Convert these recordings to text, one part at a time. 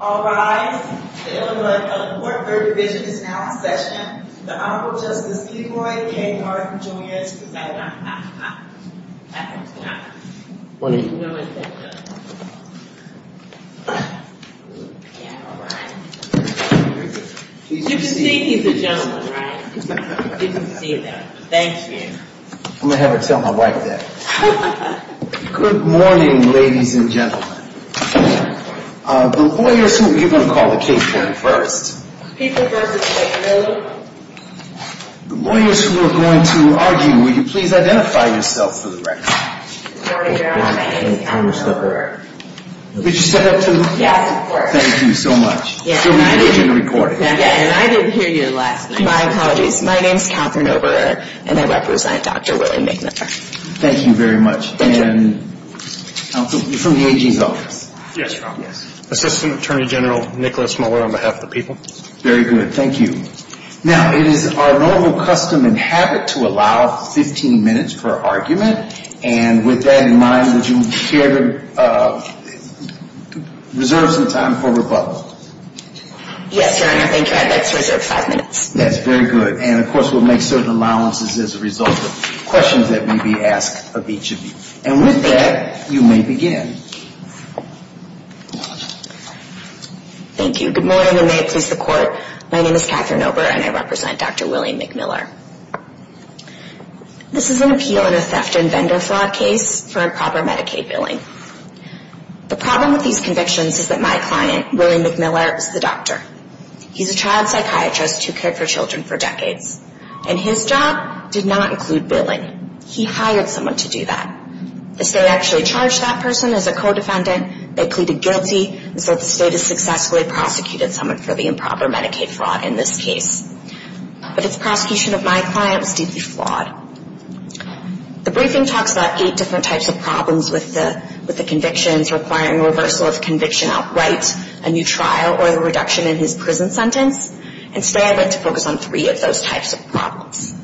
All rise. The Illinois Court Third Division is now in session. The Honorable Justice Kevoi K. Martin, Jr. is presiding. Good morning. You can see he's a gentleman, right? You can see that. Thank you. I'm going to have her tell my wife that. Good morning, ladies and gentlemen. You're going to call the case here first. The lawyers who are going to argue, will you please identify yourselves for the record? Good morning, Your Honor. My name is Kathryn Oberer. Could you stand up, too? Yes, of course. Thank you so much. I didn't hear you last night. My apologies. My name is Kathryn Oberer, and I represent Dr. Willie McMiller. Thank you very much. You're from the AG's office? Yes, Your Honor. Assistant Attorney General Nicholas Miller on behalf of the people. Very good. Thank you. Now, it is our normal custom and habit to allow 15 minutes for argument. And with that in mind, would you care to reserve some time for rebuttal? Yes, Your Honor. Thank you. I'd like to reserve five minutes. That's very good. And, of course, we'll make certain allowances as a result of questions that may be asked of each of you. And with that, you may begin. Thank you. Good morning, and may it please the Court. My name is Kathryn Oberer, and I represent Dr. Willie McMiller. This is an appeal in a theft and vendor fraud case for improper Medicaid billing. The problem with these convictions is that my client, Willie McMiller, is the doctor. He's a child psychiatrist who cared for children for decades. And his job did not include billing. He hired someone to do that. The state actually charged that person as a co-defendant. They pleaded guilty. And so the state has successfully prosecuted someone for the improper Medicaid fraud in this case. But its prosecution of my client was deeply flawed. The briefing talks about eight different types of problems with the convictions, requiring reversal of conviction outright, a new trial, or the reduction in his prison sentence. And today I'd like to focus on three of those types of problems.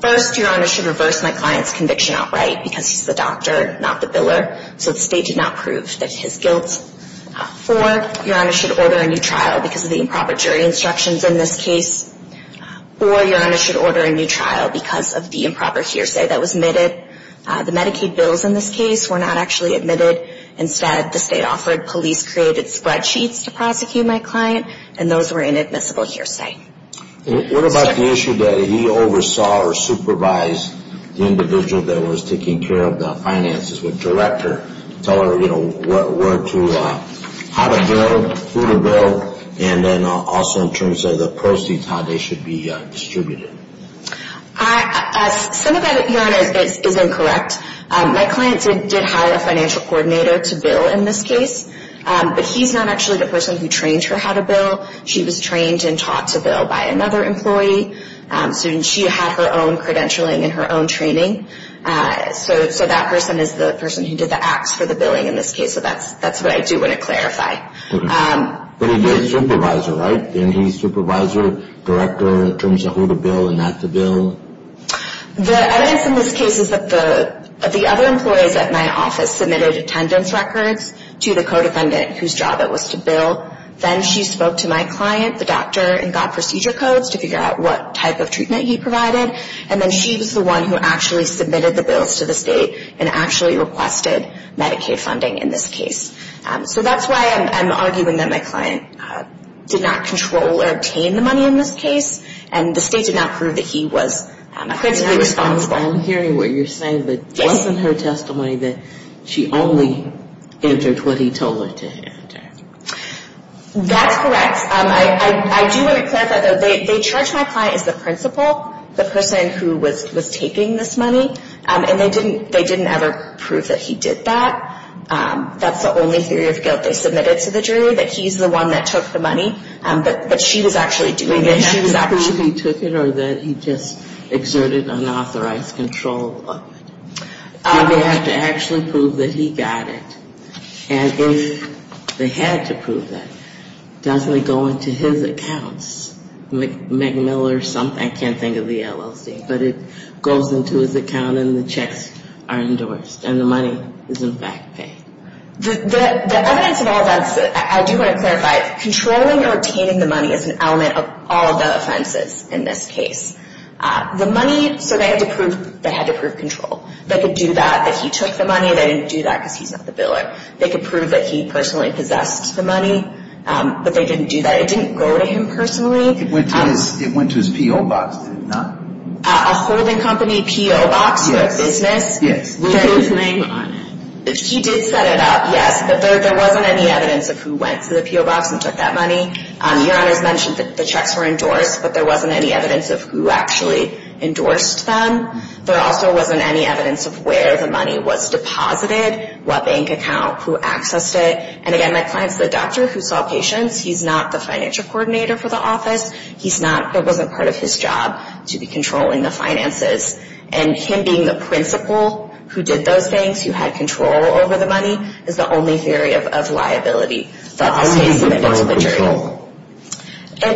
First, Your Honor, should reverse my client's conviction outright because he's the doctor, not the biller. So the state did not prove that it's his guilt. Four, Your Honor, should order a new trial because of the improper jury instructions in this case. Four, Your Honor, should order a new trial because of the improper hearsay that was admitted. The Medicaid bills in this case were not actually admitted. Instead, the state offered police-created spreadsheets to prosecute my client, and those were inadmissible hearsay. What about the issue that he oversaw or supervised the individual that was taking care of the finances? Would the director tell her, you know, where to – how to bill, who to bill, and then also in terms of the proceeds, how they should be distributed? Some of that, Your Honor, is incorrect. My client did hire a financial coordinator to bill in this case, but he's not actually the person who trained her how to bill. She was trained and taught to bill by another employee. So she had her own credentialing and her own training. So that person is the person who did the acts for the billing in this case. So that's what I do want to clarify. But he is a supervisor, right? And he's supervisor, director in terms of who to bill and not to bill? The evidence in this case is that the other employees at my office submitted attendance records to the co-defendant whose job it was to bill. Then she spoke to my client, the doctor, and got procedure codes to figure out what type of treatment he provided. And then she was the one who actually submitted the bills to the state and actually requested Medicaid funding in this case. So that's why I'm arguing that my client did not control or obtain the money in this case, and the state did not prove that he was principally responsible. I'm hearing what you're saying, but wasn't her testimony that she only entered what he told her to enter? That's correct. I do want to clarify, though. They charged my client as the principal, the person who was taking this money, and they didn't ever prove that he did that. That's the only theory of guilt they submitted to the jury, that he's the one that took the money, but she was actually doing it. Did they have to prove he took it or that he just exerted unauthorized control of it? Did they have to actually prove that he got it? And if they had to prove that, doesn't it go into his accounts? Meg Miller or something, I can't think of the LLC, but it goes into his account and the checks are endorsed and the money is, in fact, paid. The evidence of all of that, I do want to clarify, controlling or obtaining the money is an element of all of the offenses in this case. The money, so they had to prove control. They could do that, that he took the money. They didn't do that because he's not the biller. They could prove that he personally possessed the money, but they didn't do that. It didn't go to him personally. It went to his PO box, did it not? A holding company PO box for a business? Yes, yes. Put his name on it. He did set it up, yes, but there wasn't any evidence of who went to the PO box and took that money. Your Honor's mentioned that the checks were endorsed, but there wasn't any evidence of who actually endorsed them. There also wasn't any evidence of where the money was deposited, what bank account, who accessed it. And, again, my client's the doctor who saw patients. He's not the financial coordinator for the office. It wasn't part of his job to be controlling the finances, and him being the principal who did those things, who had control over the money, is the only theory of liability that the state submitted to the jury.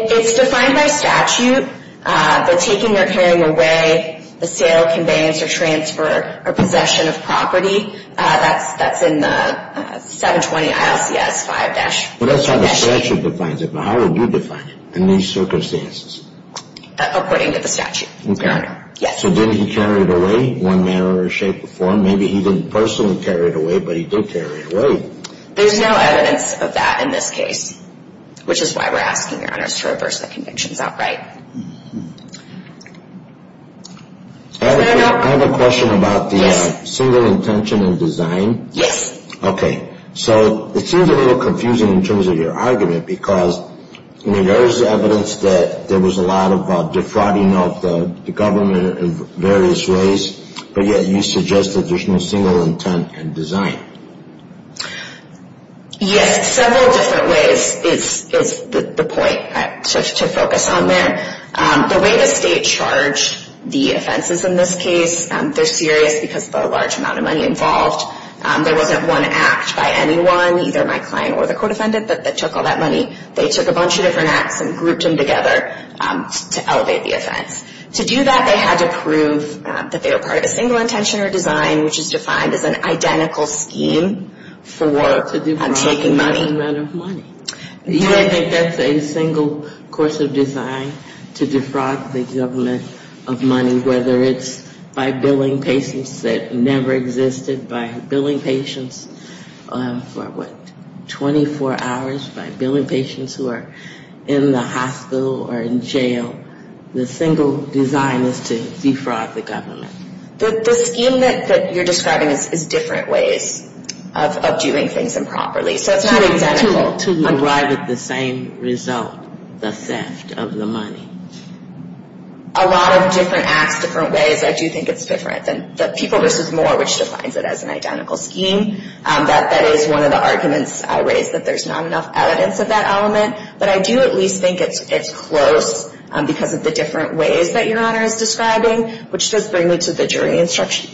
It's defined by statute, the taking or carrying away, the sale, conveyance, or transfer, or possession of property. That's in the 720-ILCS-5. That's how the statute defines it, but how would you define it in these circumstances? According to the statute, Your Honor. So didn't he carry it away in one manner or shape or form? Maybe he didn't personally carry it away, but he did carry it away. There's no evidence of that in this case, which is why we're asking, Your Honor, to reverse the convictions outright. I have a question about the single intention in design. Yes. Okay. So it seems a little confusing in terms of your argument, because there is evidence that there was a lot of defrauding of the government in various ways, but yet you suggested there's no single intent in design. Yes, several different ways is the point to focus on there. The way the state charged the offenses in this case, they're serious because of the large amount of money involved. There wasn't one act by anyone, either my client or the court defendant, that took all that money. They took a bunch of different acts and grouped them together to elevate the offense. To do that, they had to prove that they were part of a single intention or design, which is defined as an identical scheme for taking money. To defraud the government of money. Yes. I think that's a single course of design, to defraud the government of money, whether it's by billing patients that never existed, by billing patients for, what, 24 hours, by billing patients who are in the hospital or in jail. The single design is to defraud the government. The scheme that you're describing is different ways of doing things improperly. So it's not identical. To arrive at the same result, the theft of the money. A lot of different acts, different ways. I do think it's different than the people versus more, which defines it as an identical scheme. That is one of the arguments I raised, that there's not enough evidence of that element. But I do at least think it's close because of the different ways that Your Honor is describing, which does bring me to the jury instruction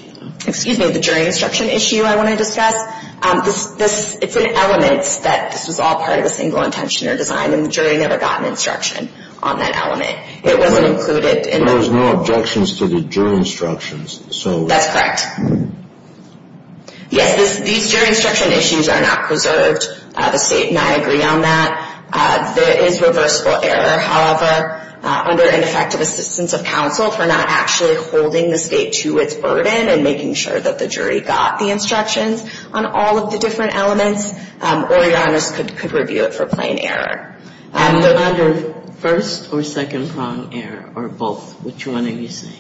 issue I want to discuss. It's an element that this was all part of a single intention or design, and the jury never got an instruction on that element. It wasn't included. There was no objections to the jury instructions. That's correct. Yes, these jury instruction issues are not preserved. The state and I agree on that. There is reversible error. However, under ineffective assistance of counsel, if we're not actually holding the state to its burden and making sure that the jury got the instructions on all of the different elements, or Your Honors could review it for plain error. Under first or second prong error, or both, which one are you saying?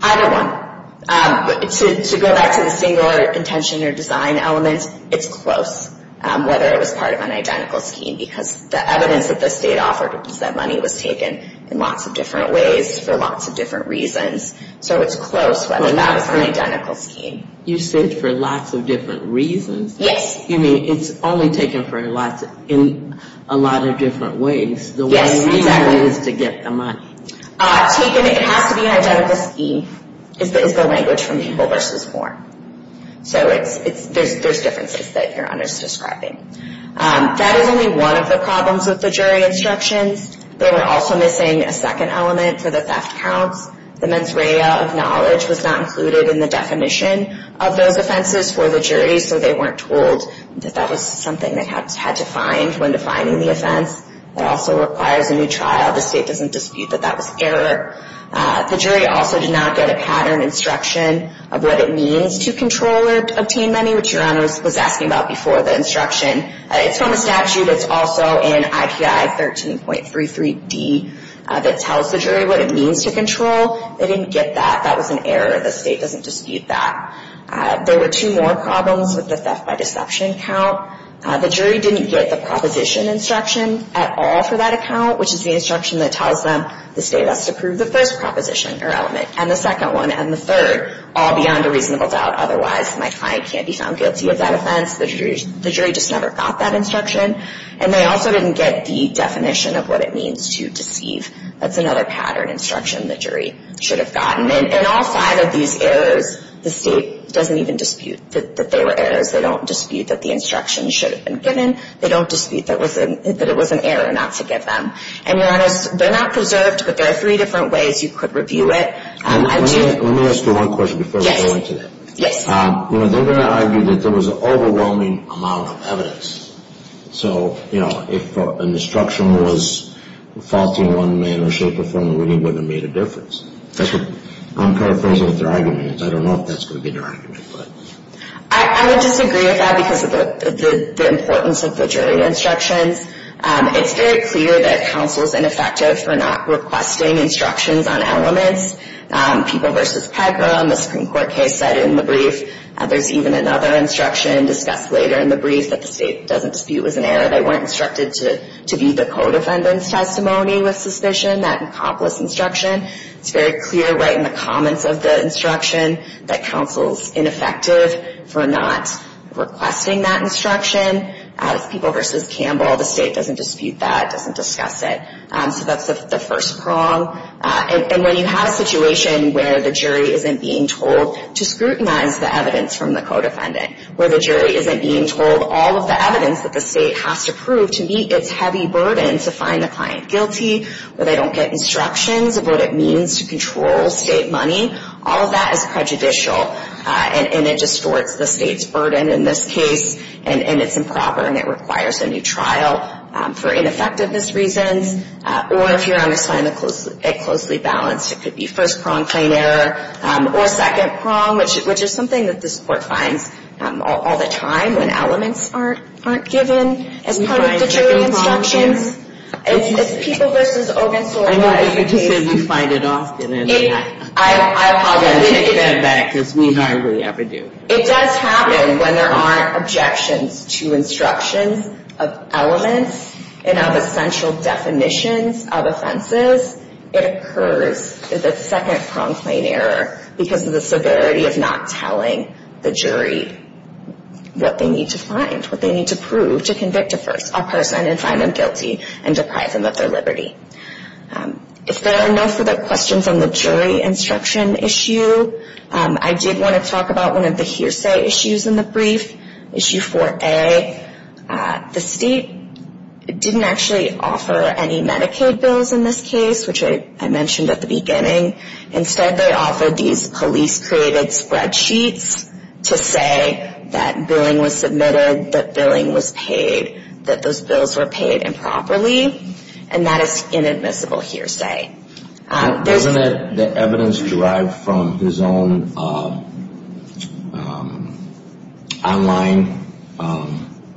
Either one. To go back to the single intention or design element, it's close whether it was part of an identical scheme because the evidence that the state offered was that money was taken in lots of different ways for lots of different reasons. So it's close whether that was an identical scheme. You said for lots of different reasons? Yes. You mean it's only taken in a lot of different ways? Yes, exactly. The one reason is to get the money. Taken, it has to be an identical scheme, is the language from people versus form. So there's differences that Your Honors are describing. That is only one of the problems with the jury instructions. They were also missing a second element for the theft counts. The mens rea of knowledge was not included in the definition of those offenses for the jury, so they weren't told that that was something they had to find when defining the offense. It also requires a new trial. The state doesn't dispute that that was error. The jury also did not get a pattern instruction of what it means to control or obtain money, which Your Honors was asking about before the instruction. It's from the statute. It's also in IPI 13.33D that tells the jury what it means to control. They didn't get that. That was an error. The state doesn't dispute that. There were two more problems with the theft by deception count. The jury didn't get the proposition instruction at all for that account, which is the instruction that tells them the state has to prove the first proposition or element and the second one and the third, all beyond a reasonable doubt. Otherwise, my client can't be found guilty of that offense. The jury just never got that instruction. And they also didn't get the definition of what it means to deceive. That's another pattern instruction the jury should have gotten. In all five of these errors, the state doesn't even dispute that they were errors. They don't dispute that the instruction should have been given. They don't dispute that it was an error not to give them. And Your Honors, they're not preserved, but there are three different ways you could review it. Let me ask you one question before we go into that. Yes. They're going to argue that there was an overwhelming amount of evidence. So, you know, if an instruction was faulty in one way or shape or form, it really wouldn't have made a difference. I'm paraphrasing what their argument is. I don't know if that's going to be their argument. I would disagree with that because of the importance of the jury instructions. It's very clear that counsel is ineffective for not requesting instructions on elements. People v. Pecker on the Supreme Court case said in the brief, there's even another instruction discussed later in the brief that the state doesn't dispute was an error. They weren't instructed to view the codefendant's testimony with suspicion. That encompassed instruction. It's very clear right in the comments of the instruction that counsel is ineffective for not requesting that instruction. People v. Campbell, the state doesn't dispute that, doesn't discuss it. So that's the first prong. And when you have a situation where the jury isn't being told to scrutinize the evidence from the codefendant, where the jury isn't being told all of the evidence that the state has to prove to meet its heavy burden to find the client guilty, where they don't get instructions of what it means to control state money, all of that is prejudicial. And it distorts the state's burden in this case. And it's improper and it requires a new trial for ineffectiveness reasons. Or if you're on a side that closely balanced, it could be first prong, plain error, or second prong, which is something that this Court finds all the time when elements aren't given as part of the jury instructions. It's people v. Ogunsula. I know you said we find it often. I apologize. We take that back because we hardly ever do. It does happen when there aren't objections to instructions of elements and of essential definitions of offenses. It occurs as a second prong, plain error because of the severity of not telling the jury what they need to find, what they need to prove to convict a person and find them guilty and deprive them of their liberty. If there are no further questions on the jury instruction issue, I did want to talk about one of the hearsay issues in the brief, Issue 4A. The state didn't actually offer any Medicaid bills in this case, which I mentioned at the beginning. Instead, they offered these police-created spreadsheets to say that billing was submitted, that billing was paid, that those bills were paid improperly, and that is inadmissible hearsay. Isn't the evidence derived from his own online,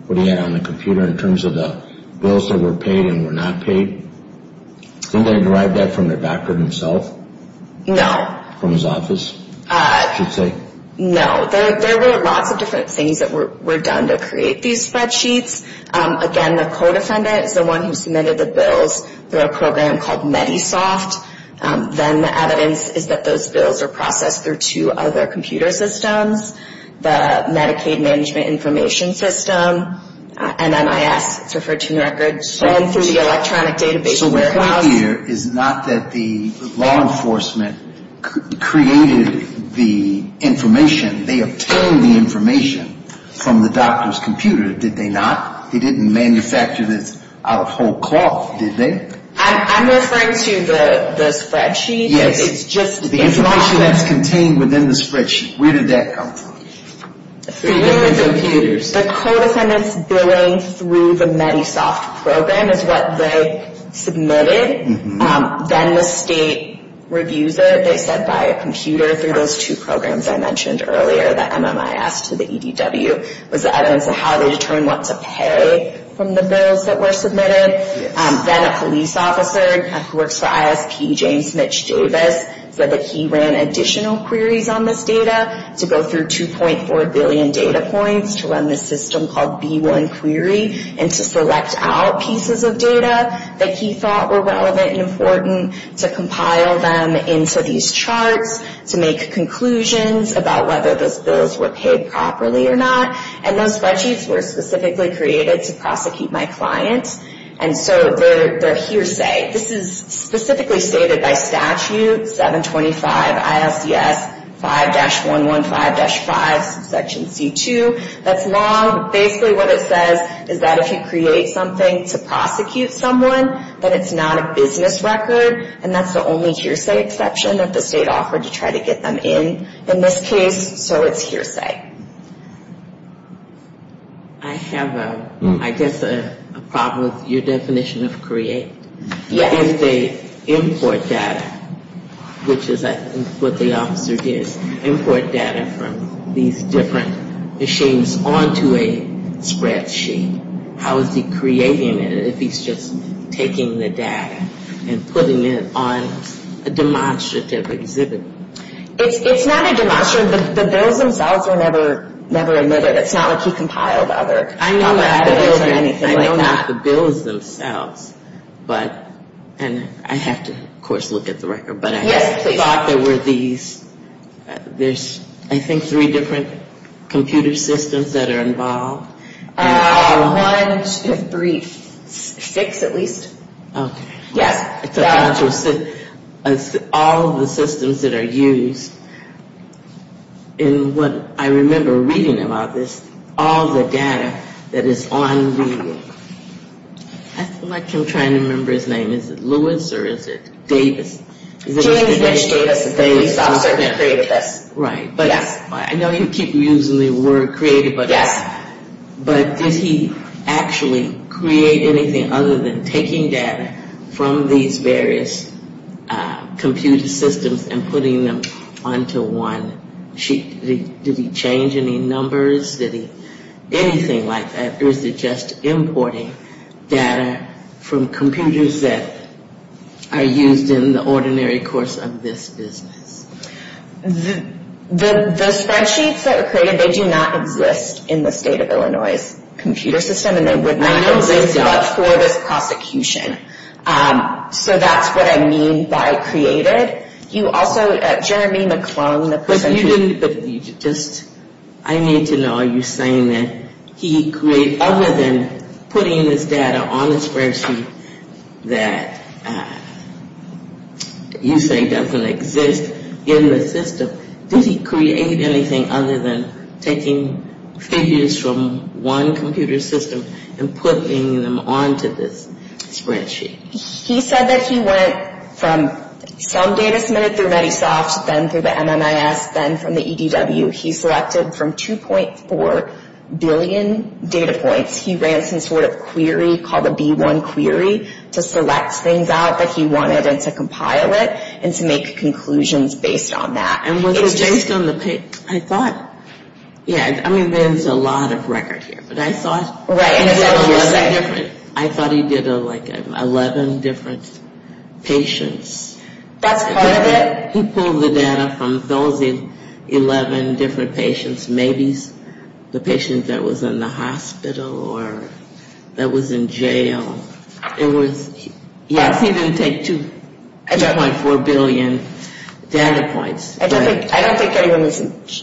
what he had on the computer, in terms of the bills that were paid and were not paid? Didn't they derive that from the doctor himself? No. From his office, you'd say? No. There were lots of different things that were done to create these spreadsheets. Again, the co-defendant is the one who submitted the bills through a program called MediSoft. Then the evidence is that those bills are processed through two other computer systems, the Medicaid Management Information System, and MIS. It's referred to in your records. And through the electronic database. So what I hear is not that the law enforcement created the information. They obtained the information from the doctor's computer, did they not? They didn't manufacture this out of whole cloth, did they? I'm referring to the spreadsheet. The information that's contained within the spreadsheet, where did that come from? Through different computers. The co-defendant's billing through the MediSoft program is what they submitted. Then the state reviews it, they said, by a computer through those two programs I mentioned earlier, that MMIS to the EDW was the evidence of how they determined what to pay from the bills that were submitted. Then a police officer who works for ISP, James Mitch Davis, said that he ran additional queries on this data to go through 2.4 billion data points to run this system called B1 Query and to select out pieces of data that he thought were relevant and important to compile them into these charts to make conclusions about whether those bills were paid properly or not. And those spreadsheets were specifically created to prosecute my client. And so they're hearsay. This is specifically stated by statute, 725 ISDS 5-115-5, section C2. That's law. Basically what it says is that if you create something to prosecute someone, that it's not a business record, and that's the only hearsay exception that the state offered to try to get them in. In this case, so it's hearsay. I have, I guess, a problem with your definition of create. Yes. If they import data, which is I think what the officer did, import data from these different machines onto a spreadsheet, how is he creating it if he's just taking the data and putting it on a demonstrative exhibit? It's not a demonstration. The bills themselves are never omitted. It's not like he compiled other bills or anything like that. I know not the bills themselves, but, and I have to of course look at the record. Yes, please. But I thought there were these, there's I think three different computer systems that are involved. One, two, three, six at least. Okay. Yes. It's all the systems that are used in what I remember reading about this, all the data that is on the, I feel like I'm trying to remember his name. Is it Lewis or is it Davis? James Lynch Davis, the police officer that created this. Right. Yes. I keep using the word created. Yes. But did he actually create anything other than taking data from these various computer systems and putting them onto one sheet? Did he change any numbers? Did he, anything like that? Or is it just importing data from computers that are used in the ordinary course of this business? The spreadsheets that are created, they do not exist in the state of Illinois' computer system and they would not exist for this prosecution. So that's what I mean by created. You also, Jeremy McClung, the person who- But you didn't, just, I need to know, are you saying that he created, other than putting this data on the spreadsheet that you say doesn't exist in the system, did he create anything other than taking figures from one computer system and putting them onto this spreadsheet? He said that he went from some data submitted through MediSoft, then through the MMIS, then from the EDW, he selected from 2.4 billion data points, he ran some sort of query called the B1 query to select things out that he wanted and to compile it and to make conclusions based on that. And was it based on the, I thought, yeah, I mean there's a lot of record here, but I thought he did 11 different, I thought he did like 11 different patients. That's part of it. But he pulled the data from those 11 different patients, maybe the patient that was in the hospital or that was in jail. It was, yes, he didn't take 2.4 billion data points. I don't think anyone was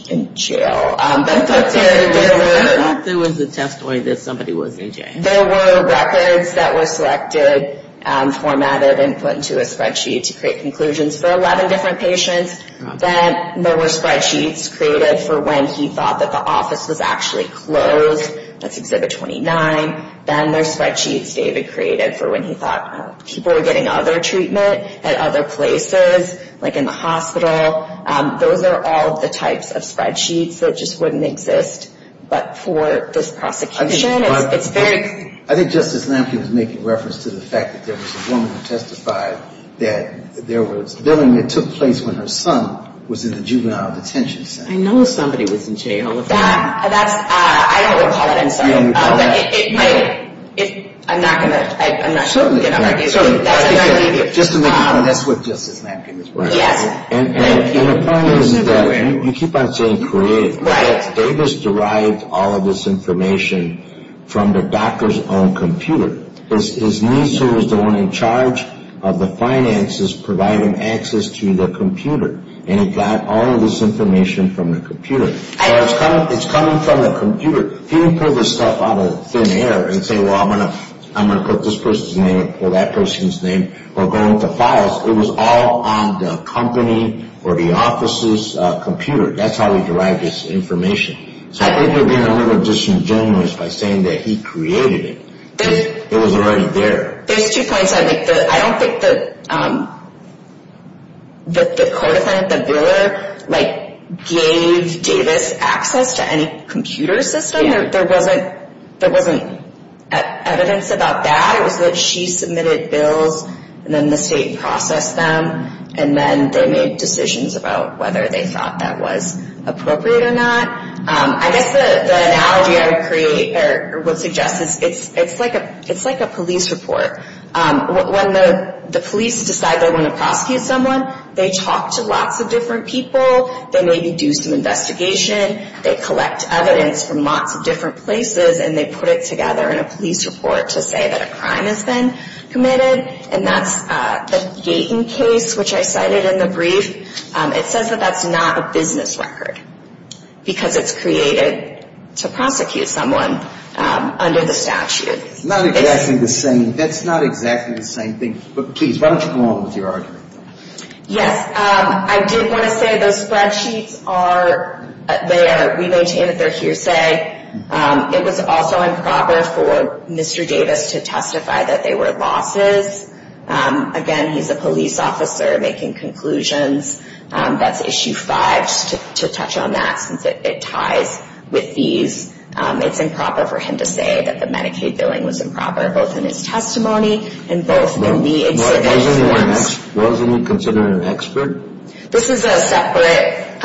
in jail. I thought there was a testimony that somebody was in jail. There were records that were selected, formatted, and put into a spreadsheet to create conclusions for 11 different patients. Then there were spreadsheets created for when he thought that the office was actually closed. That's Exhibit 29. Then there's spreadsheets David created for when he thought people were getting other treatment at other places, like in the hospital. Those are all the types of spreadsheets that just wouldn't exist. But for this prosecution, it's very – I think Justice Lamkin was making reference to the fact that there was a woman who testified that there was billing that took place when her son was in the juvenile detention center. I know somebody was in jail. That's – I don't recall it. You don't recall that? I'm not going to – Certainly not. Just to make it clear, that's what Justice Lamkin was working on. Yes. And the point is that you keep on saying created. Right. The point is that Davis derived all of this information from the doctor's own computer. His niece, who was the one in charge of the finances, provided him access to the computer, and he got all of this information from the computer. So it's coming from the computer. He didn't pull this stuff out of thin air and say, well, I'm going to put this person's name or that person's name or go into files. It was all on the company or the office's computer. That's how he derived this information. So I think you're being a little disingenuous by saying that he created it. It was already there. There's two points. I don't think that the court offended the biller, like gave Davis access to any computer system. There wasn't evidence about that. It was that she submitted bills, and then the state processed them, and then they made decisions about whether they thought that was appropriate or not. I guess the analogy I would create or would suggest is it's like a police report. When the police decide they want to prosecute someone, they talk to lots of different people. They maybe do some investigation. They collect evidence from lots of different places, and they put it together in a police report to say that a crime has been committed, and that's the Gaten case, which I cited in the brief. It says that that's not a business record because it's created to prosecute someone under the statute. It's not exactly the same. That's not exactly the same thing. But, please, why don't you go on with your argument? Yes, I did want to say those spreadsheets are there. We maintain that they're hearsay. It was also improper for Mr. Davis to testify that they were losses. Again, he's a police officer making conclusions. That's Issue 5 to touch on that since it ties with these. It's improper for him to say that the Medicaid billing was improper, both in his testimony and both in the incident. Wasn't he considered an expert? This is a separate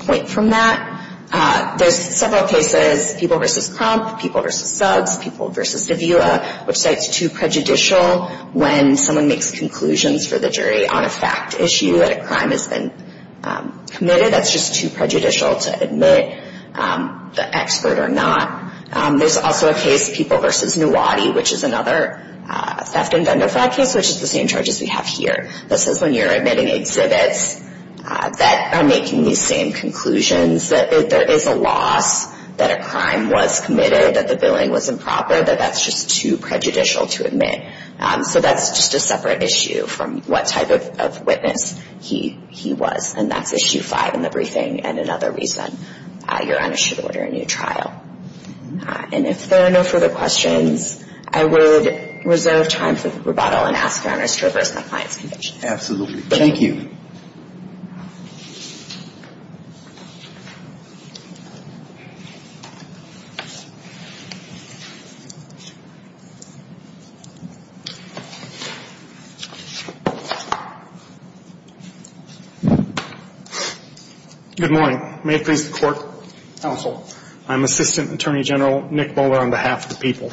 point from that. There's several cases, People v. Crump, People v. Suggs, People v. DeVua, which say it's too prejudicial when someone makes conclusions for the jury on a fact issue that a crime has been committed. That's just too prejudicial to admit the expert or not. There's also a case, People v. Nuwadi, which is another theft and vendor fraud case, which is the same charges we have here. This is when you're admitting exhibits that are making these same conclusions, that there is a loss, that a crime was committed, that the billing was improper, that that's just too prejudicial to admit. So that's just a separate issue from what type of witness he was. And that's Issue 5 in the briefing and another reason your honors should order a new trial. And if there are no further questions, I would reserve time for rebuttal and ask your honors to reverse the client's conviction. Absolutely. Thank you. Good morning. May it please the Court, Counsel. I'm Assistant Attorney General Nick Bowler on behalf of the People.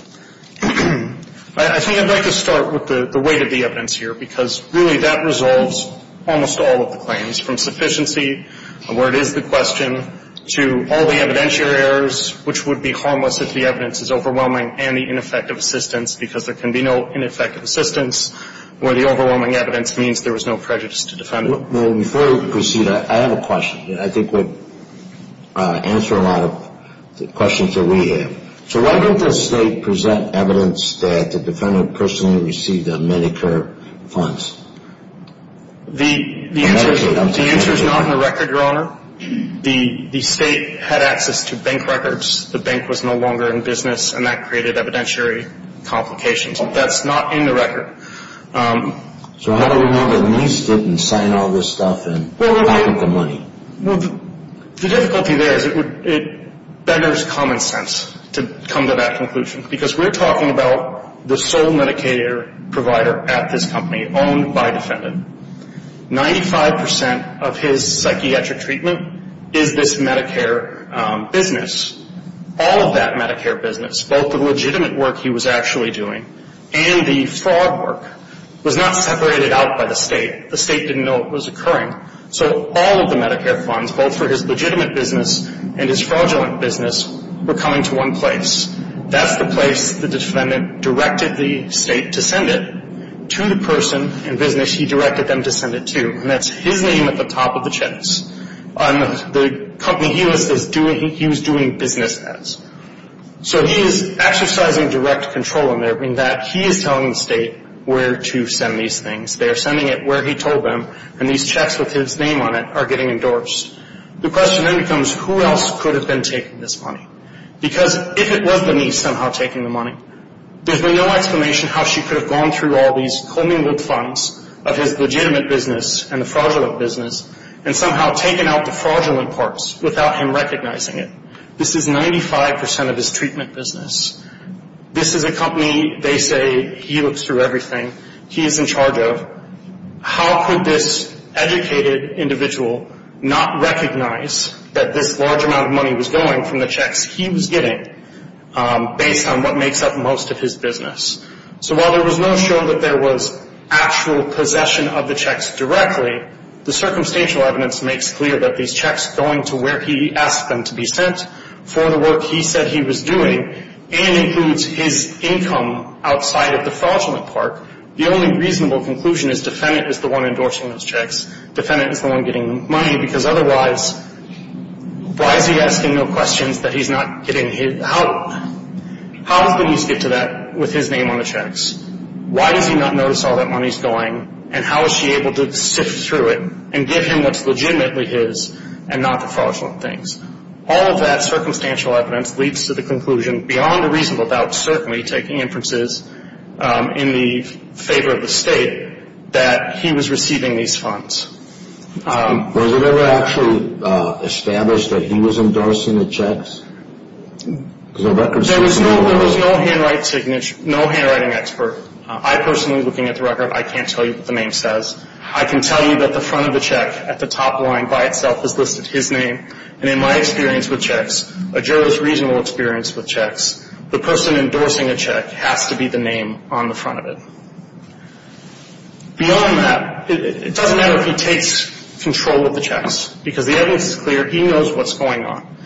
I think I'd like to start with the weight of the evidence here because really that resolves almost all of the claims from sufficiency, where it is the question, to all the evidentiary errors, which would be harmless if the evidence is overwhelming, and the ineffective assistance because there can be no ineffective assistance where the overwhelming evidence means there was no prejudice to defend it. Well, before we proceed, I have a question that I think would answer a lot of the questions that we have. So why didn't the state present evidence that the defendant personally received Medicare funds? The answer is not in the record, your honor. The state had access to bank records. The bank was no longer in business, and that created evidentiary complications. That's not in the record. So how do we know that the police didn't sign all this stuff and hide the money? The difficulty there is it benders common sense to come to that conclusion because we're talking about the sole Medicare provider at this company owned by a defendant. Ninety-five percent of his psychiatric treatment is this Medicare business. All of that Medicare business, both the legitimate work he was actually doing and the fraud work, was not separated out by the state. The state didn't know it was occurring. So all of the Medicare funds, both for his legitimate business and his fraudulent business, were coming to one place. That's the place the defendant directed the state to send it to the person in business he directed them to send it to, and that's his name at the top of the checks on the company he was doing business as. So he is exercising direct control in that he is telling the state where to send these things. They are sending it where he told them, and these checks with his name on it are getting endorsed. The question then becomes who else could have been taking this money? Because if it was the niece somehow taking the money, there's been no explanation how she could have gone through all these commingled funds of his legitimate business and the fraudulent business and somehow taken out the fraudulent parts without him recognizing it. This is 95 percent of his treatment business. This is a company, they say, he looks through everything. He is in charge of how could this educated individual not recognize that this large amount of money was going from the checks he was getting based on what makes up most of his business. So while there was no show that there was actual possession of the checks directly, the circumstantial evidence makes clear that these checks going to where he asked them to be sent for the work he said he was doing and includes his income outside of the fraudulent part the only reasonable conclusion is defendant is the one endorsing those checks. Defendant is the one getting money because otherwise why is he asking no questions that he's not getting his how does the niece get to that with his name on the checks? Why does he not notice all that money is going and how is she able to sift through it and give him what's legitimately his and not the fraudulent things? All of that circumstantial evidence leads to the conclusion beyond a reasonable doubt certainly taking inferences in the favor of the state that he was receiving these funds. Was it ever actually established that he was endorsing the checks? There was no handwriting expert. I personally, looking at the record, I can't tell you what the name says. I can tell you that the front of the check at the top line by itself is listed his name and in my experience with checks, a juror's reasonable experience with checks, the person endorsing a check has to be the name on the front of it. Beyond that, it doesn't matter if he takes control of the checks because the evidence is clear. He knows what's going on.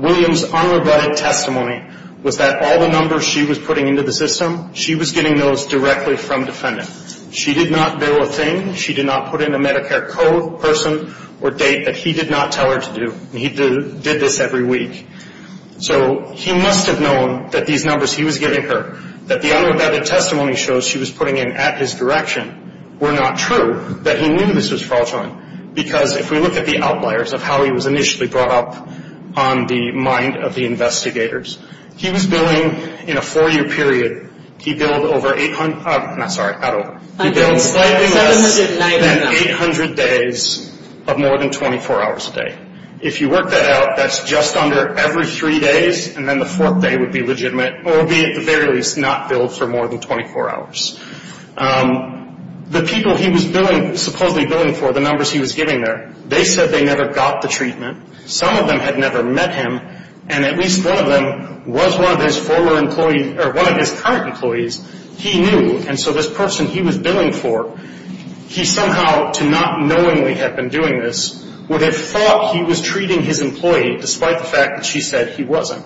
William's unrebutted testimony was that all the numbers she was putting into the system, she was getting those directly from defendant. She did not bill a thing. She did not put in a Medicare code, person, or date that he did not tell her to do. He did this every week. So he must have known that these numbers he was giving her, that the unrebutted testimony shows she was putting in at his direction, were not true, that he knew this was fraudulent. Because if we look at the outliers of how he was initially brought up on the mind of the investigators, he was billing in a four-year period. He billed slightly less than 800 days of more than 24 hours a day. If you work that out, that's just under every three days, and then the fourth day would be legitimate or be at the very least not billed for more than 24 hours. The people he was supposedly billing for, the numbers he was giving there, they said they never got the treatment. Some of them had never met him, and at least one of them was one of his current employees. He knew, and so this person he was billing for, he somehow, to not knowingly have been doing this, would have thought he was treating his employee despite the fact that she said he wasn't.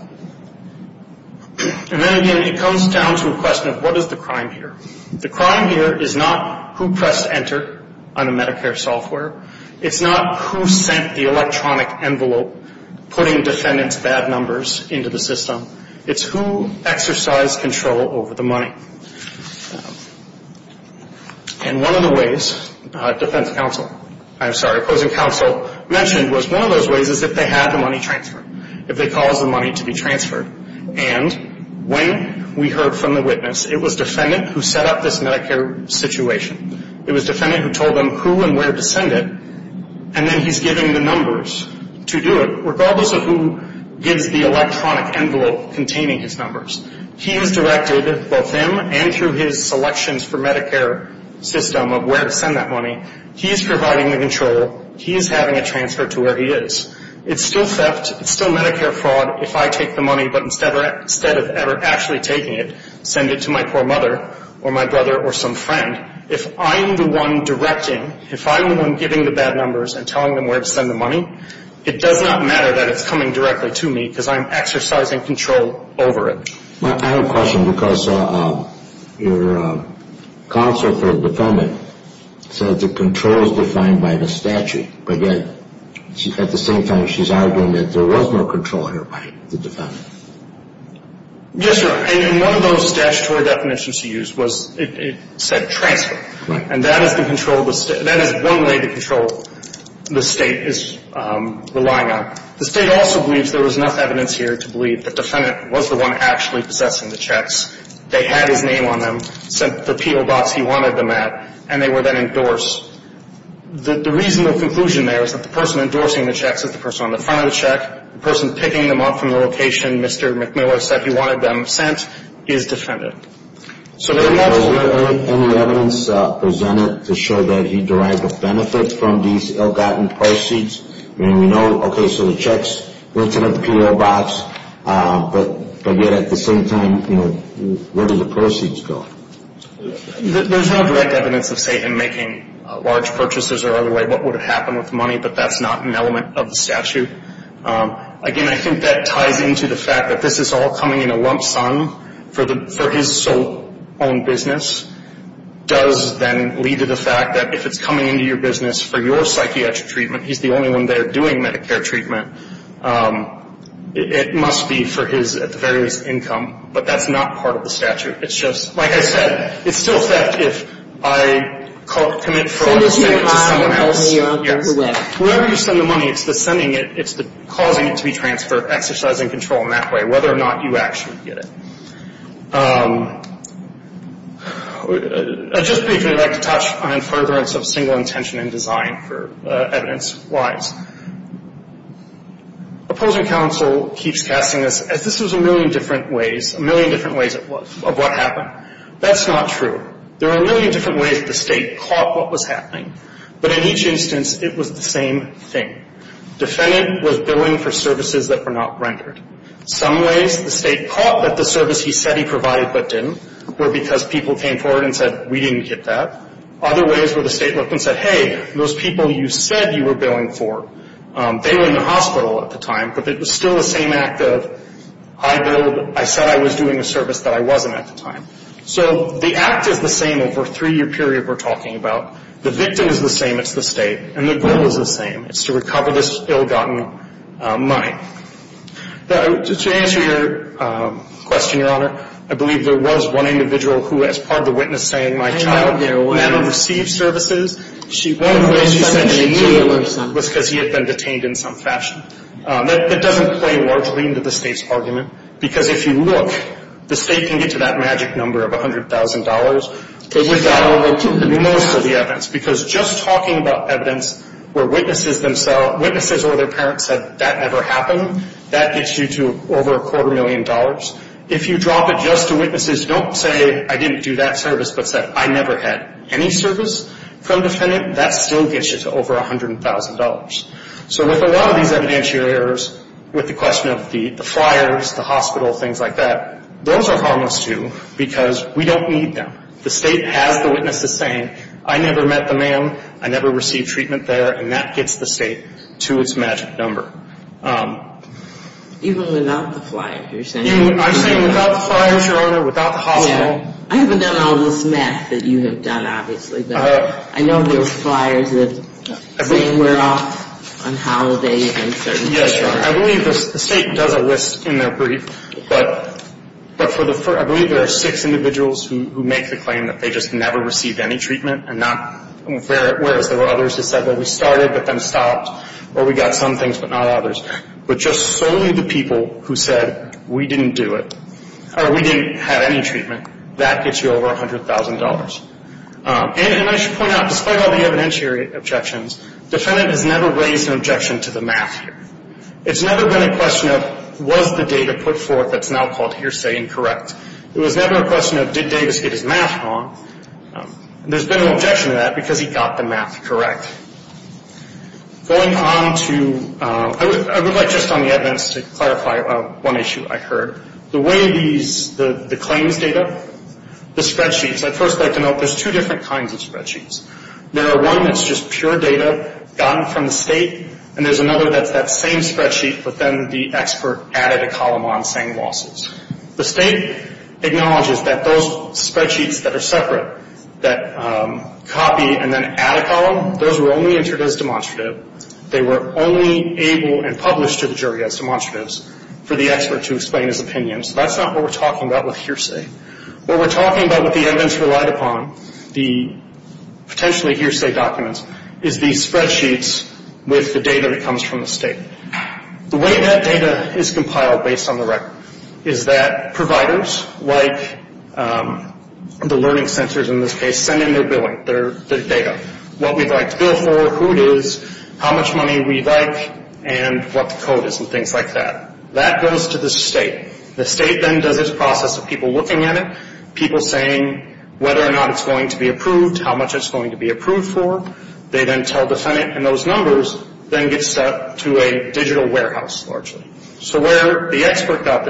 And then, again, it comes down to a question of what is the crime here. The crime here is not who pressed enter on a Medicare software. It's not who sent the electronic envelope putting defendant's bad numbers into the system. It's who exercised control over the money. And one of the ways defense counsel, I'm sorry, opposing counsel, mentioned was one of those ways is if they had the money transferred, if they caused the money to be transferred. And when we heard from the witness, it was defendant who set up this Medicare situation. It was defendant who told them who and where to send it, and then he's giving the numbers to do it, regardless of who gives the electronic envelope containing his numbers. He has directed both him and through his selections for Medicare system of where to send that money. He is providing the control. He is having it transferred to where he is. It's still theft. It's still Medicare fraud if I take the money, but instead of actually taking it, send it to my poor mother or my brother or some friend. If I'm the one directing, if I'm the one giving the bad numbers and telling them where to send the money, it does not matter that it's coming directly to me because I'm exercising control over it. I have a question because your counsel for the defendant said the control is defined by the statute, but yet at the same time she's arguing that there was no control here by the defendant. Yes, sir, and one of those statutory definitions she used was it said transfer. Right. And that has been controlled. That is one way to control the state is relying on. The state also believes there was enough evidence here to believe the defendant was the one actually possessing the checks. They had his name on them, sent the PO box he wanted them at, and they were then endorsed. The reasonable conclusion there is that the person endorsing the checks is the person on the front of the check. The person picking them up from the location Mr. McMillan said he wanted them sent is defendant. Was there any evidence presented to show that he derived a benefit from these ill-gotten proceeds? I mean, we know, okay, so the checks went to the PO box, but yet at the same time, you know, where did the proceeds go? There's no direct evidence of, say, him making large purchases or other way. What would have happened with the money, but that's not an element of the statute. Again, I think that ties into the fact that this is all coming in a lump sum for his sole-owned business, does then lead to the fact that if it's coming into your business for your psychiatric treatment, he's the only one there doing Medicare treatment, it must be for his at the very least income. But that's not part of the statute. It's just, like I said, it's still theft if I commit fraud and send it to someone else. Send it to your eye and hold it in your underwear? Yes. Wherever you send the money, it's the sending it, it's the causing it to be transferred, exercising control in that way, whether or not you actually get it. I'd just briefly like to touch on furtherance of single intention in design for evidence-wise. Opposing counsel keeps casting us as if this was a million different ways, a million different ways of what happened. That's not true. There are a million different ways the State caught what was happening. But in each instance, it was the same thing. Defendant was billing for services that were not rendered. Some ways the State caught that the service he said he provided but didn't were because people came forward and said, we didn't get that. Other ways were the State looked and said, hey, those people you said you were billing for, they were in the hospital at the time, but it was still the same act of I billed, I said I was doing a service that I wasn't at the time. So the act is the same over a three-year period we're talking about. The victim is the same. It's the State. And the goal is the same. It's to recover this ill-gotten money. To answer your question, Your Honor, I believe there was one individual who, as part of the witness saying, my child never received services. One of the ways she said she knew was because he had been detained in some fashion. That doesn't play largely into the State's argument because if you look, the State can get to that magic number of $100,000. It would dial over to most of the evidence because just talking about evidence where witnesses themselves, witnesses or their parents said that never happened, that gets you to over a quarter million dollars. If you drop it just to witnesses, don't say I didn't do that service but said I never had any service from defendant, that still gets you to over $100,000. So with a lot of these evidentiary errors, with the question of the flyers, the hospital, things like that, those are harmless too because we don't need them. The State has the witnesses saying I never met the man, I never received treatment there, and that gets the State to its magic number. Even without the flyers you're saying? I'm saying without the flyers, Your Honor, without the hospital. I haven't done all this math that you have done, obviously, but I know there's flyers that say we're off on holidays and certain things like that. Yes, Your Honor, I believe the State does a list in their brief, but I believe there are six individuals who make the claim that they just never received any treatment and not, whereas there were others that said that we started but then stopped or we got some things but not others. But just solely the people who said we didn't do it or we didn't have any treatment, that gets you over $100,000. And I should point out, despite all the evidentiary objections, the defendant has never raised an objection to the math here. It's never been a question of was the data put forth that's now called hearsay and correct. It was never a question of did Davis get his math wrong. There's been an objection to that because he got the math correct. Going on to, I would like just on the evidence to clarify one issue I heard. The way these, the claims data, the spreadsheets, I'd first like to note there's two different kinds of spreadsheets. There are one that's just pure data gotten from the State, and there's another that's that same spreadsheet but then the expert added a column on saying losses. The State acknowledges that those spreadsheets that are separate, that copy and then add a column, those were only entered as demonstrative. They were only able and published to the jury as demonstratives for the expert to explain his opinion. So that's not what we're talking about with hearsay. What we're talking about with the evidence relied upon, the potentially hearsay documents, is these spreadsheets with the data that comes from the State. The way that data is compiled based on the record is that providers, like the learning centers in this case, send in their billing, their data, what we'd like to bill for, who it is, how much money we'd like, and what the code is and things like that. That goes to the State. The State then does its process of people looking at it, people saying whether or not it's going to be approved, how much it's going to be approved for. They then tell the defendant, and those numbers then get sent to a digital warehouse largely. So where the expert got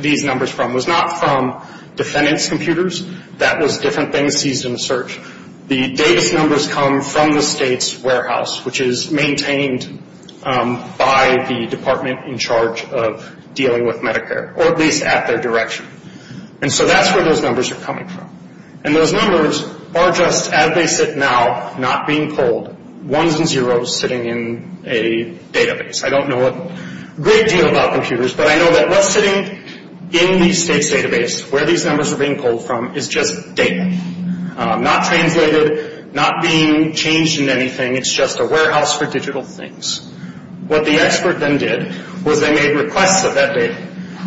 these numbers from was not from defendant's computers. That was different things seized in the search. The Davis numbers come from the State's warehouse, which is maintained by the department in charge of dealing with Medicare, or at least at their direction. And so that's where those numbers are coming from. And those numbers are just, as they sit now, not being pulled, ones and zeros sitting in a database. I don't know a great deal about computers, but I know that what's sitting in the State's database, where these numbers are being pulled from, is just data. Not translated, not being changed into anything. It's just a warehouse for digital things. What the expert then did was they made requests of that data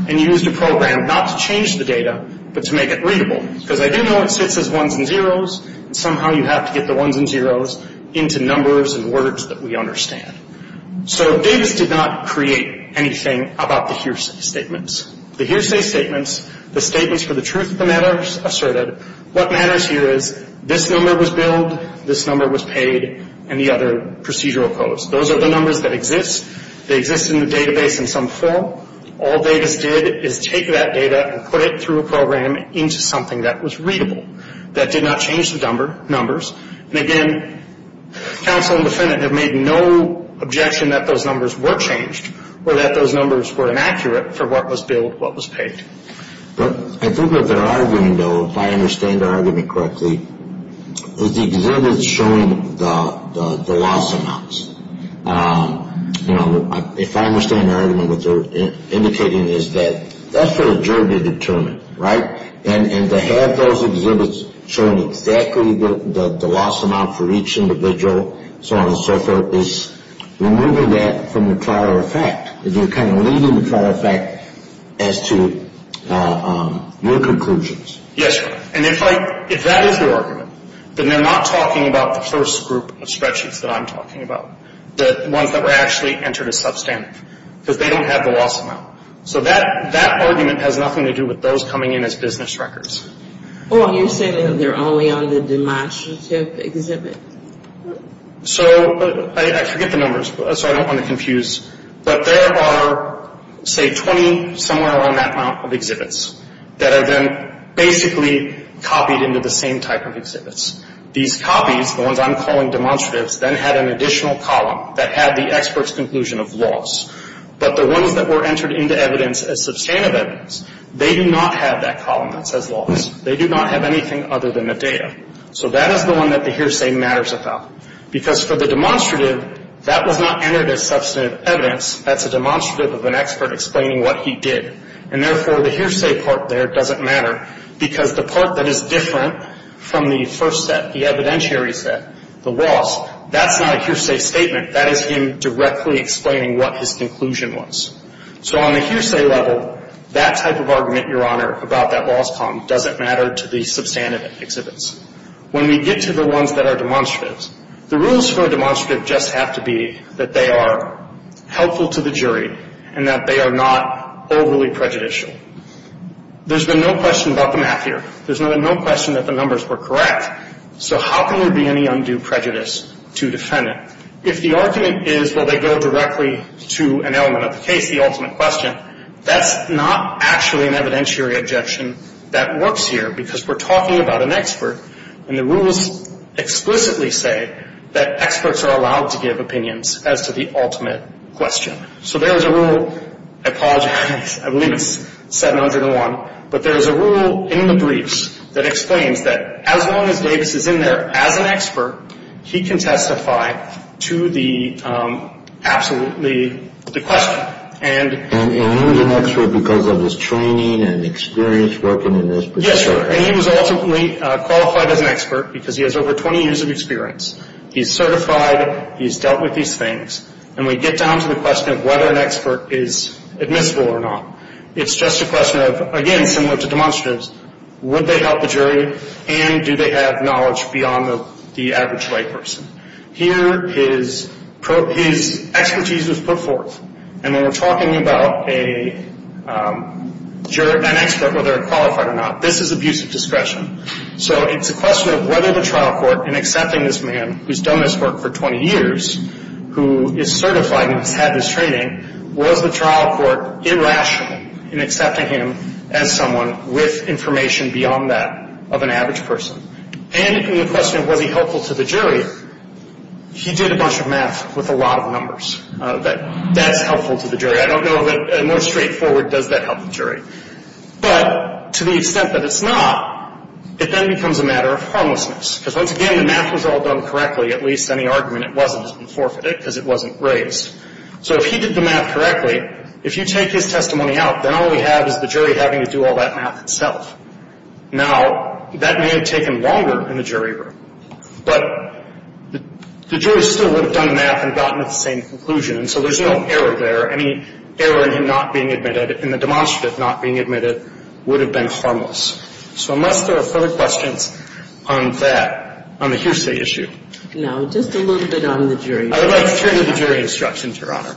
and used a program not to change the data, but to make it readable, because they didn't know it sits as ones and zeros, and somehow you have to get the ones and zeros into numbers and words that we understand. So Davis did not create anything about the hearsay statements. The hearsay statements, the statements for the truth of the matters asserted, what matters here is this number was billed, this number was paid, and the other procedural codes. Those are the numbers that exist. They exist in the database in some form. All Davis did is take that data and put it through a program into something that was readable, that did not change the numbers. And again, counsel and defendant have made no objection that those numbers were changed or that those numbers were inaccurate for what was billed, what was paid. I think what they're arguing, though, if I understand their argument correctly, is the exhibits showing the loss amounts. You know, if I understand their argument, what they're indicating is that that's for the jury to determine, right? And to have those exhibits showing exactly the loss amount for each individual, so on and so forth, is removing that from the prior effect. You're kind of leaving the prior effect as to your conclusions. Yes, sir. And if that is their argument, then they're not talking about the first group of spreadsheets that I'm talking about, the ones that were actually entered as substantive, because they don't have the loss amount. So that argument has nothing to do with those coming in as business records. Well, you're saying that they're only on the demonstrative exhibit. So I forget the numbers, so I don't want to confuse. But there are, say, 20, somewhere around that amount of exhibits that have been basically copied into the same type of exhibits. These copies, the ones I'm calling demonstratives, then had an additional column that had the expert's conclusion of loss. But the ones that were entered into evidence as substantive evidence, they do not have that column that says loss. They do not have anything other than the data. So that is the one that the hearsay matters about. Because for the demonstrative, that was not entered as substantive evidence. That's a demonstrative of an expert explaining what he did. And therefore, the hearsay part there doesn't matter, because the part that is different from the first set, the evidentiary set, the loss, that's not a hearsay statement. That is him directly explaining what his conclusion was. So on the hearsay level, that type of argument, Your Honor, about that loss column, doesn't matter to the substantive exhibits. When we get to the ones that are demonstratives, the rules for a demonstrative just have to be that they are helpful to the jury and that they are not overly prejudicial. There's been no question about the math here. There's been no question that the numbers were correct. So how can there be any undue prejudice to defend it? If the argument is, well, they go directly to an element of the case, the ultimate question, that's not actually an evidentiary objection that works here, because we're talking about an expert, and the rules explicitly say that experts are allowed to give opinions as to the ultimate question. So there is a rule, I apologize, I believe it's 701, but there is a rule in the briefs that explains that as long as Davis is in there as an expert, he can testify to the absolute, the question. And he was an expert because of his training and experience working in this particular area. Yes, and he was ultimately qualified as an expert because he has over 20 years of experience. He's certified, he's dealt with these things, and we get down to the question of whether an expert is admissible or not. It's just a question of, again, similar to demonstratives, would they help the jury and do they have knowledge beyond the average white person? Here his expertise was put forth, and when we're talking about an expert, whether they're qualified or not, this is abuse of discretion. So it's a question of whether the trial court, in accepting this man who's done this work for 20 years, who is certified and has had this training, was the trial court irrational in accepting him as someone with information beyond that of an average person? And in the question of was he helpful to the jury, he did a bunch of math with a lot of numbers. That's helpful to the jury. I don't know of a more straightforward, does that help the jury? But to the extent that it's not, it then becomes a matter of harmlessness. Because once again, the math was all done correctly. At least any argument it wasn't has been forfeited because it wasn't raised. So if he did the math correctly, if you take his testimony out, then all we have is the jury having to do all that math itself. Now, that may have taken longer in the jury room, but the jury still would have done math and gotten at the same conclusion. And so there's no error there. Any error in him not being admitted, in the demonstrative not being admitted, would have been harmless. So unless there are further questions on that, on the hearsay issue. No. Just a little bit on the jury. I would like to turn to the jury instructions, Your Honor.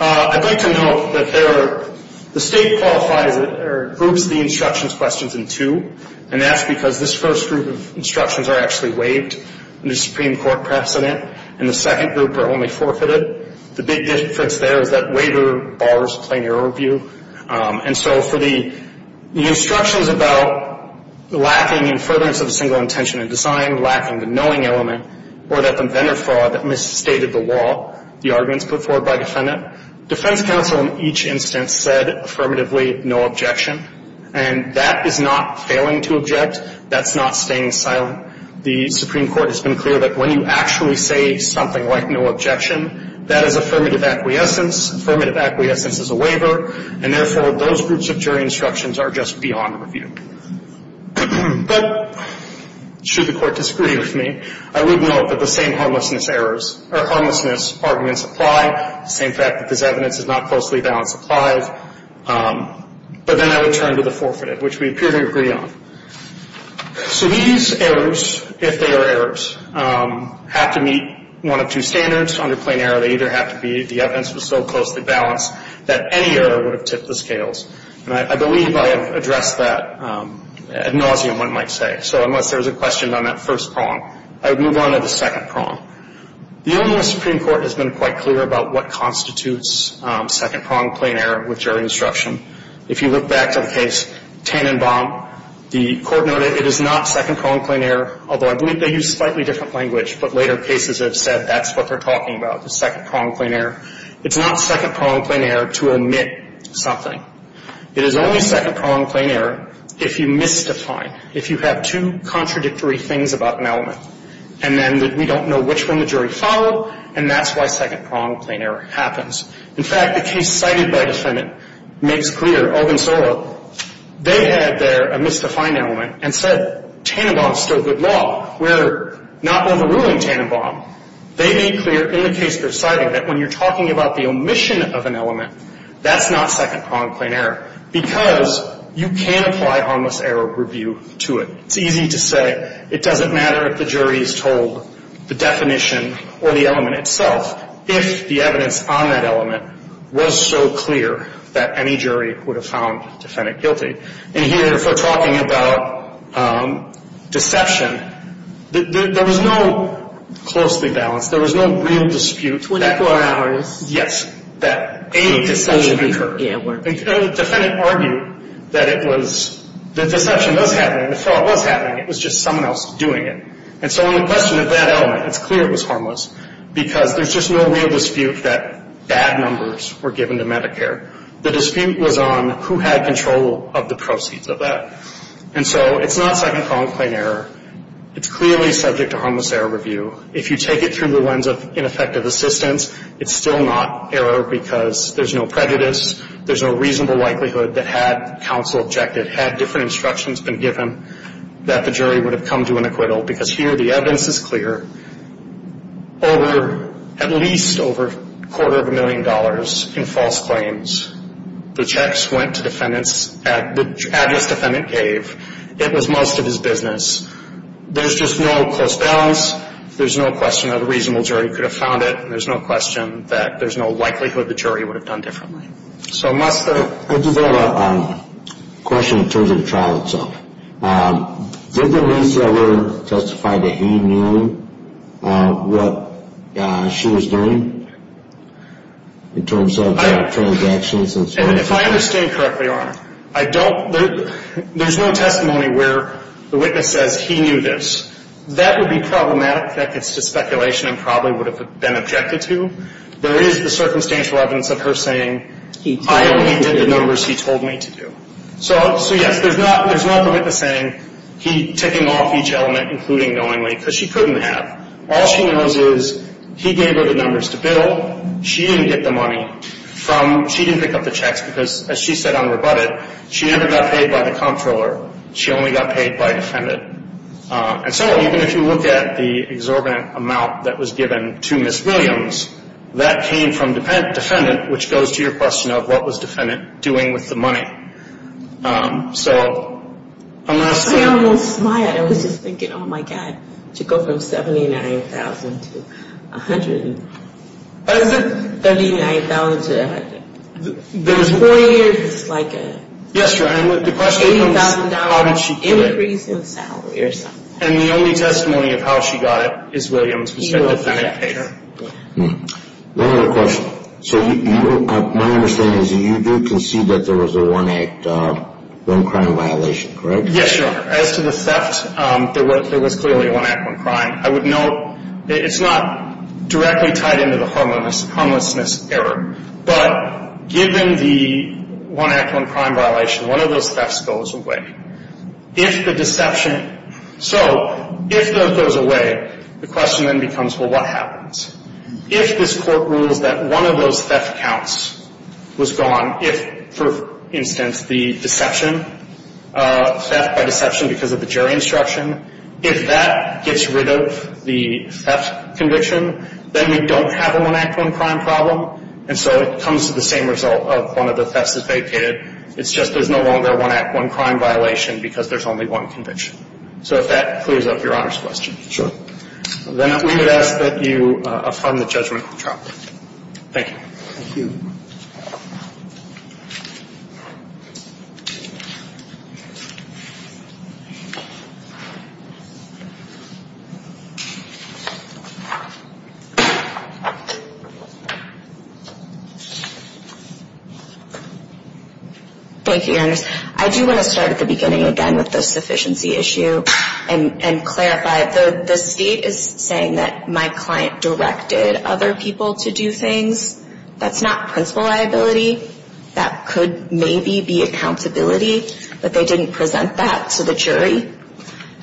I'd like to note that the state qualifies or groups the instructions questions in two. And that's because this first group of instructions are actually waived under Supreme Court precedent. And the second group are only forfeited. The big difference there is that waiver borrows a plainer overview. And so for the instructions about lacking in furtherance of a single intention in design, lacking the knowing element, or that the vendor fraud that misstated the law, the arguments put forward by the defendant, defense counsel in each instance said affirmatively no objection. And that is not failing to object. That's not staying silent. The Supreme Court has been clear that when you actually say something like no objection, that is affirmative acquiescence. Affirmative acquiescence is a waiver. And therefore, those groups of jury instructions are just beyond review. But should the court disagree with me, I would note that the same harmlessness arguments apply. The same fact that this evidence is not closely balanced applies. But then I would turn to the forfeited, which we appear to agree on. So these errors, if they are errors, have to meet one of two standards. Under plain error, they either have to be the evidence was so closely balanced that any error would have tipped the scales. And I believe I have addressed that ad nauseum, one might say. So unless there's a question on that first prong, I would move on to the second prong. The Illinois Supreme Court has been quite clear about what constitutes second-prong plain error with jury instruction. If you look back to the case Tannenbaum, the court noted it is not second-prong plain error, although I believe they used slightly different language, but later cases have said that's what they're talking about, the second-prong plain error. It's not second-prong plain error to omit something. It is only second-prong plain error if you misdefine, if you have two contradictory things about an element. And then we don't know which one the jury followed, and that's why second-prong plain error happens. In fact, the case cited by the defendant makes clear, Ogunsola, they had there a misdefined element and said Tannenbaum is still good law. We're not overruling Tannenbaum. They made clear in the case they're citing that when you're talking about the omission of an element, that's not second-prong plain error because you can apply harmless error review to it. It's easy to say it doesn't matter if the jury is told the definition or the element itself if the evidence on that element was so clear that any jury would have found the defendant guilty. And here, if we're talking about deception, there was no closely balanced, there was no real dispute. Yes, that any deception occurred. And so the defendant argued that it was, that deception does happen and the fraud was happening, it was just someone else doing it. And so on the question of that element, it's clear it was harmless because there's just no real dispute that bad numbers were given to Medicare. The dispute was on who had control of the proceeds of that. And so it's not second-prong plain error. It's clearly subject to harmless error review. If you take it through the lens of ineffective assistance, it's still not error because there's no prejudice, there's no reasonable likelihood that had counsel objected, had different instructions been given, that the jury would have come to an acquittal because here the evidence is clear. Over, at least over a quarter of a million dollars in false claims, the checks went to defendants at the address defendant gave. It was most of his business. There's just no close balance. There's no question that a reasonable jury could have found it. There's no question that there's no likelihood the jury would have done differently. So it must have. I just have a question in terms of the trial itself. Did the receiver testify that he knew what she was doing in terms of transactions and so on? If I understand correctly, Your Honor, I don't. There's no testimony where the witness says he knew this. That would be problematic. That gets to speculation and probably would have been objected to. There is the circumstantial evidence of her saying I only did the numbers he told me to do. So, yes, there's not the witness saying he took them off each element, including knowingly, because she couldn't have. All she knows is he gave her the numbers to bill. She didn't get the money from, she didn't pick up the checks because, as she said on rebutted, she never got paid by the comptroller. She only got paid by defendant. And so even if you look at the exorbitant amount that was given to Ms. Williams, that came from defendant, which goes to your question of what was defendant doing with the money. So unless... I almost smiled. I was just thinking, oh, my God, to go from $79,000 to $139,000. Four years is like a $80,000 increase in salary or something. And the only testimony of how she got it is Williams, who said the defendant paid her. One other question. So my understanding is that you did concede that there was a one-act one-crime violation, correct? Yes, Your Honor. As to the theft, there was clearly a one-act one-crime. I would note it's not directly tied into the harmlessness error, but given the one-act one-crime violation, one of those thefts goes away. If the deception... So if that goes away, the question then becomes, well, what happens? If this court rules that one of those theft counts was gone, if, for instance, the deception, theft by deception because of the jury instruction, if that gets rid of the theft conviction, then we don't have a one-act one-crime problem, and so it comes to the same result of one of the thefts is vacated. It's just there's no longer a one-act one-crime violation because there's only one conviction. So if that clears up Your Honor's question. Then we would ask that you affirm the judgment of the trial. Thank you. Thank you. Thank you, Your Honor. I do want to start at the beginning again with the sufficiency issue and clarify. The State is saying that my client directed other people to do things. That's not principal liability. That could maybe be accountability, but they didn't present that to the jury.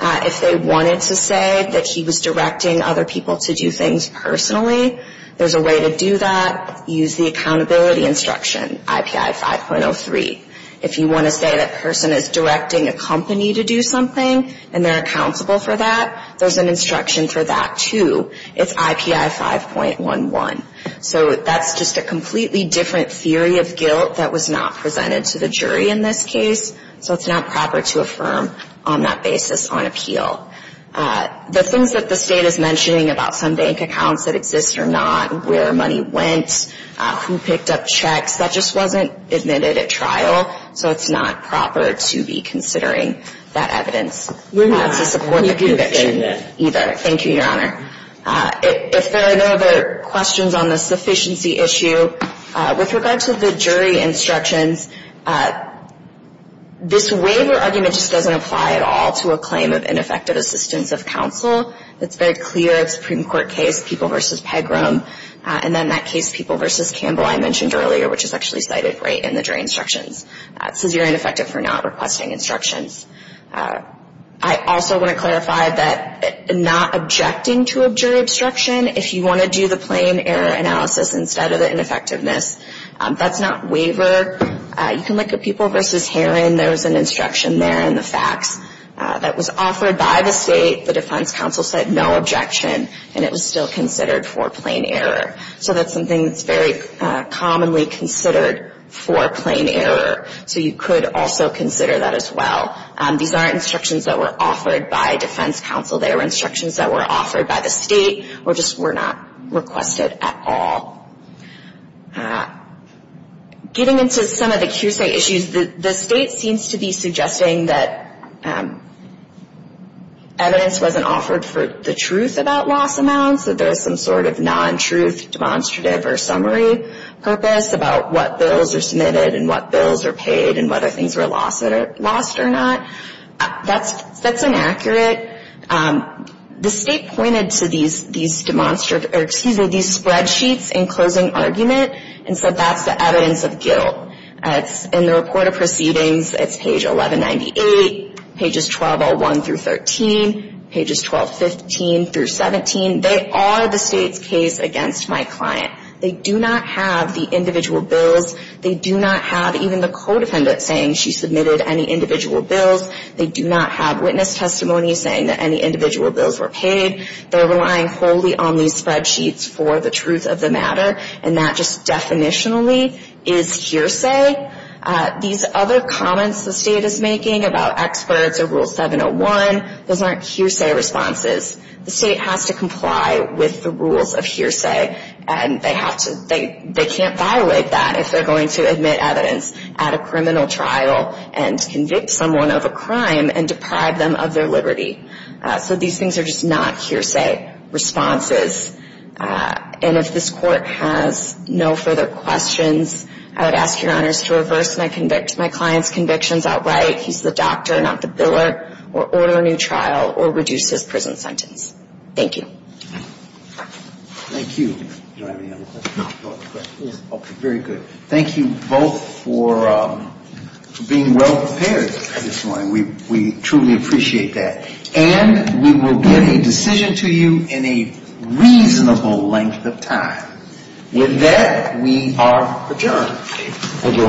If they wanted to say that he was directing other people to do things personally, there's a way to do that. Use the accountability instruction, IPI 5.03. If you want to say that a person is directing a company to do something and they're accountable for that, there's an instruction for that, too. It's IPI 5.11. So that's just a completely different theory of guilt that was not presented to the jury in this case, so it's not proper to affirm on that basis on appeal. The things that the State is mentioning about some bank accounts that exist or not, where money went, who picked up checks, that just wasn't admitted at trial, so it's not proper to be considering that evidence to support the conviction either. Thank you, Your Honor. If there are no other questions on the sufficiency issue, with regard to the jury instructions, this waiver argument just doesn't apply at all to a claim of ineffective assistance of counsel. It's very clear. It's a Supreme Court case, People v. Pegram, and then that case, People v. Campbell, I mentioned earlier, which is actually cited right in the jury instructions. It says you're ineffective for not requesting instructions. I also want to clarify that not objecting to a jury obstruction, if you want to do the plain error analysis instead of the ineffectiveness, that's not waiver. You can look at People v. Herron. There's an instruction there in the facts that was offered by the State. The defense counsel said no objection, and it was still considered for plain error. So that's something that's very commonly considered for plain error, so you could also consider that as well. These aren't instructions that were offered by defense counsel. They were instructions that were offered by the State, or just were not requested at all. Getting into some of the QSA issues, the State seems to be suggesting that evidence wasn't offered for the truth about loss amounts, that there's some sort of non-truth demonstrative or summary purpose about what bills are submitted and what bills are paid and whether things were lost or not. That's inaccurate. The State pointed to these spreadsheets in closing argument and said that's the evidence of guilt. In the report of proceedings, it's page 1198, pages 1201 through 13, pages 1215 through 17. They are the State's case against my client. They do not have the individual bills. They do not have even the co-defendant saying she submitted any individual bills. They do not have witness testimony saying that any individual bills were paid. They're relying wholly on these spreadsheets for the truth of the matter, and that just definitionally is hearsay. These other comments the State is making about experts or Rule 701, those aren't hearsay responses. The State has to comply with the rules of hearsay, and they can't violate that if they're going to admit evidence at a criminal trial and convict someone of a crime and deprive them of their liberty. So these things are just not hearsay responses. And if this Court has no further questions, I would ask Your Honors to reverse my client's convictions outright. He's the doctor, not the biller, or order a new trial or reduce his prison sentence. Thank you. Thank you. Do I have any other questions? Okay, very good. Thank you both for being well prepared this morning. We truly appreciate that. And we will get a decision to you in a reasonable length of time. With that, we are adjourned.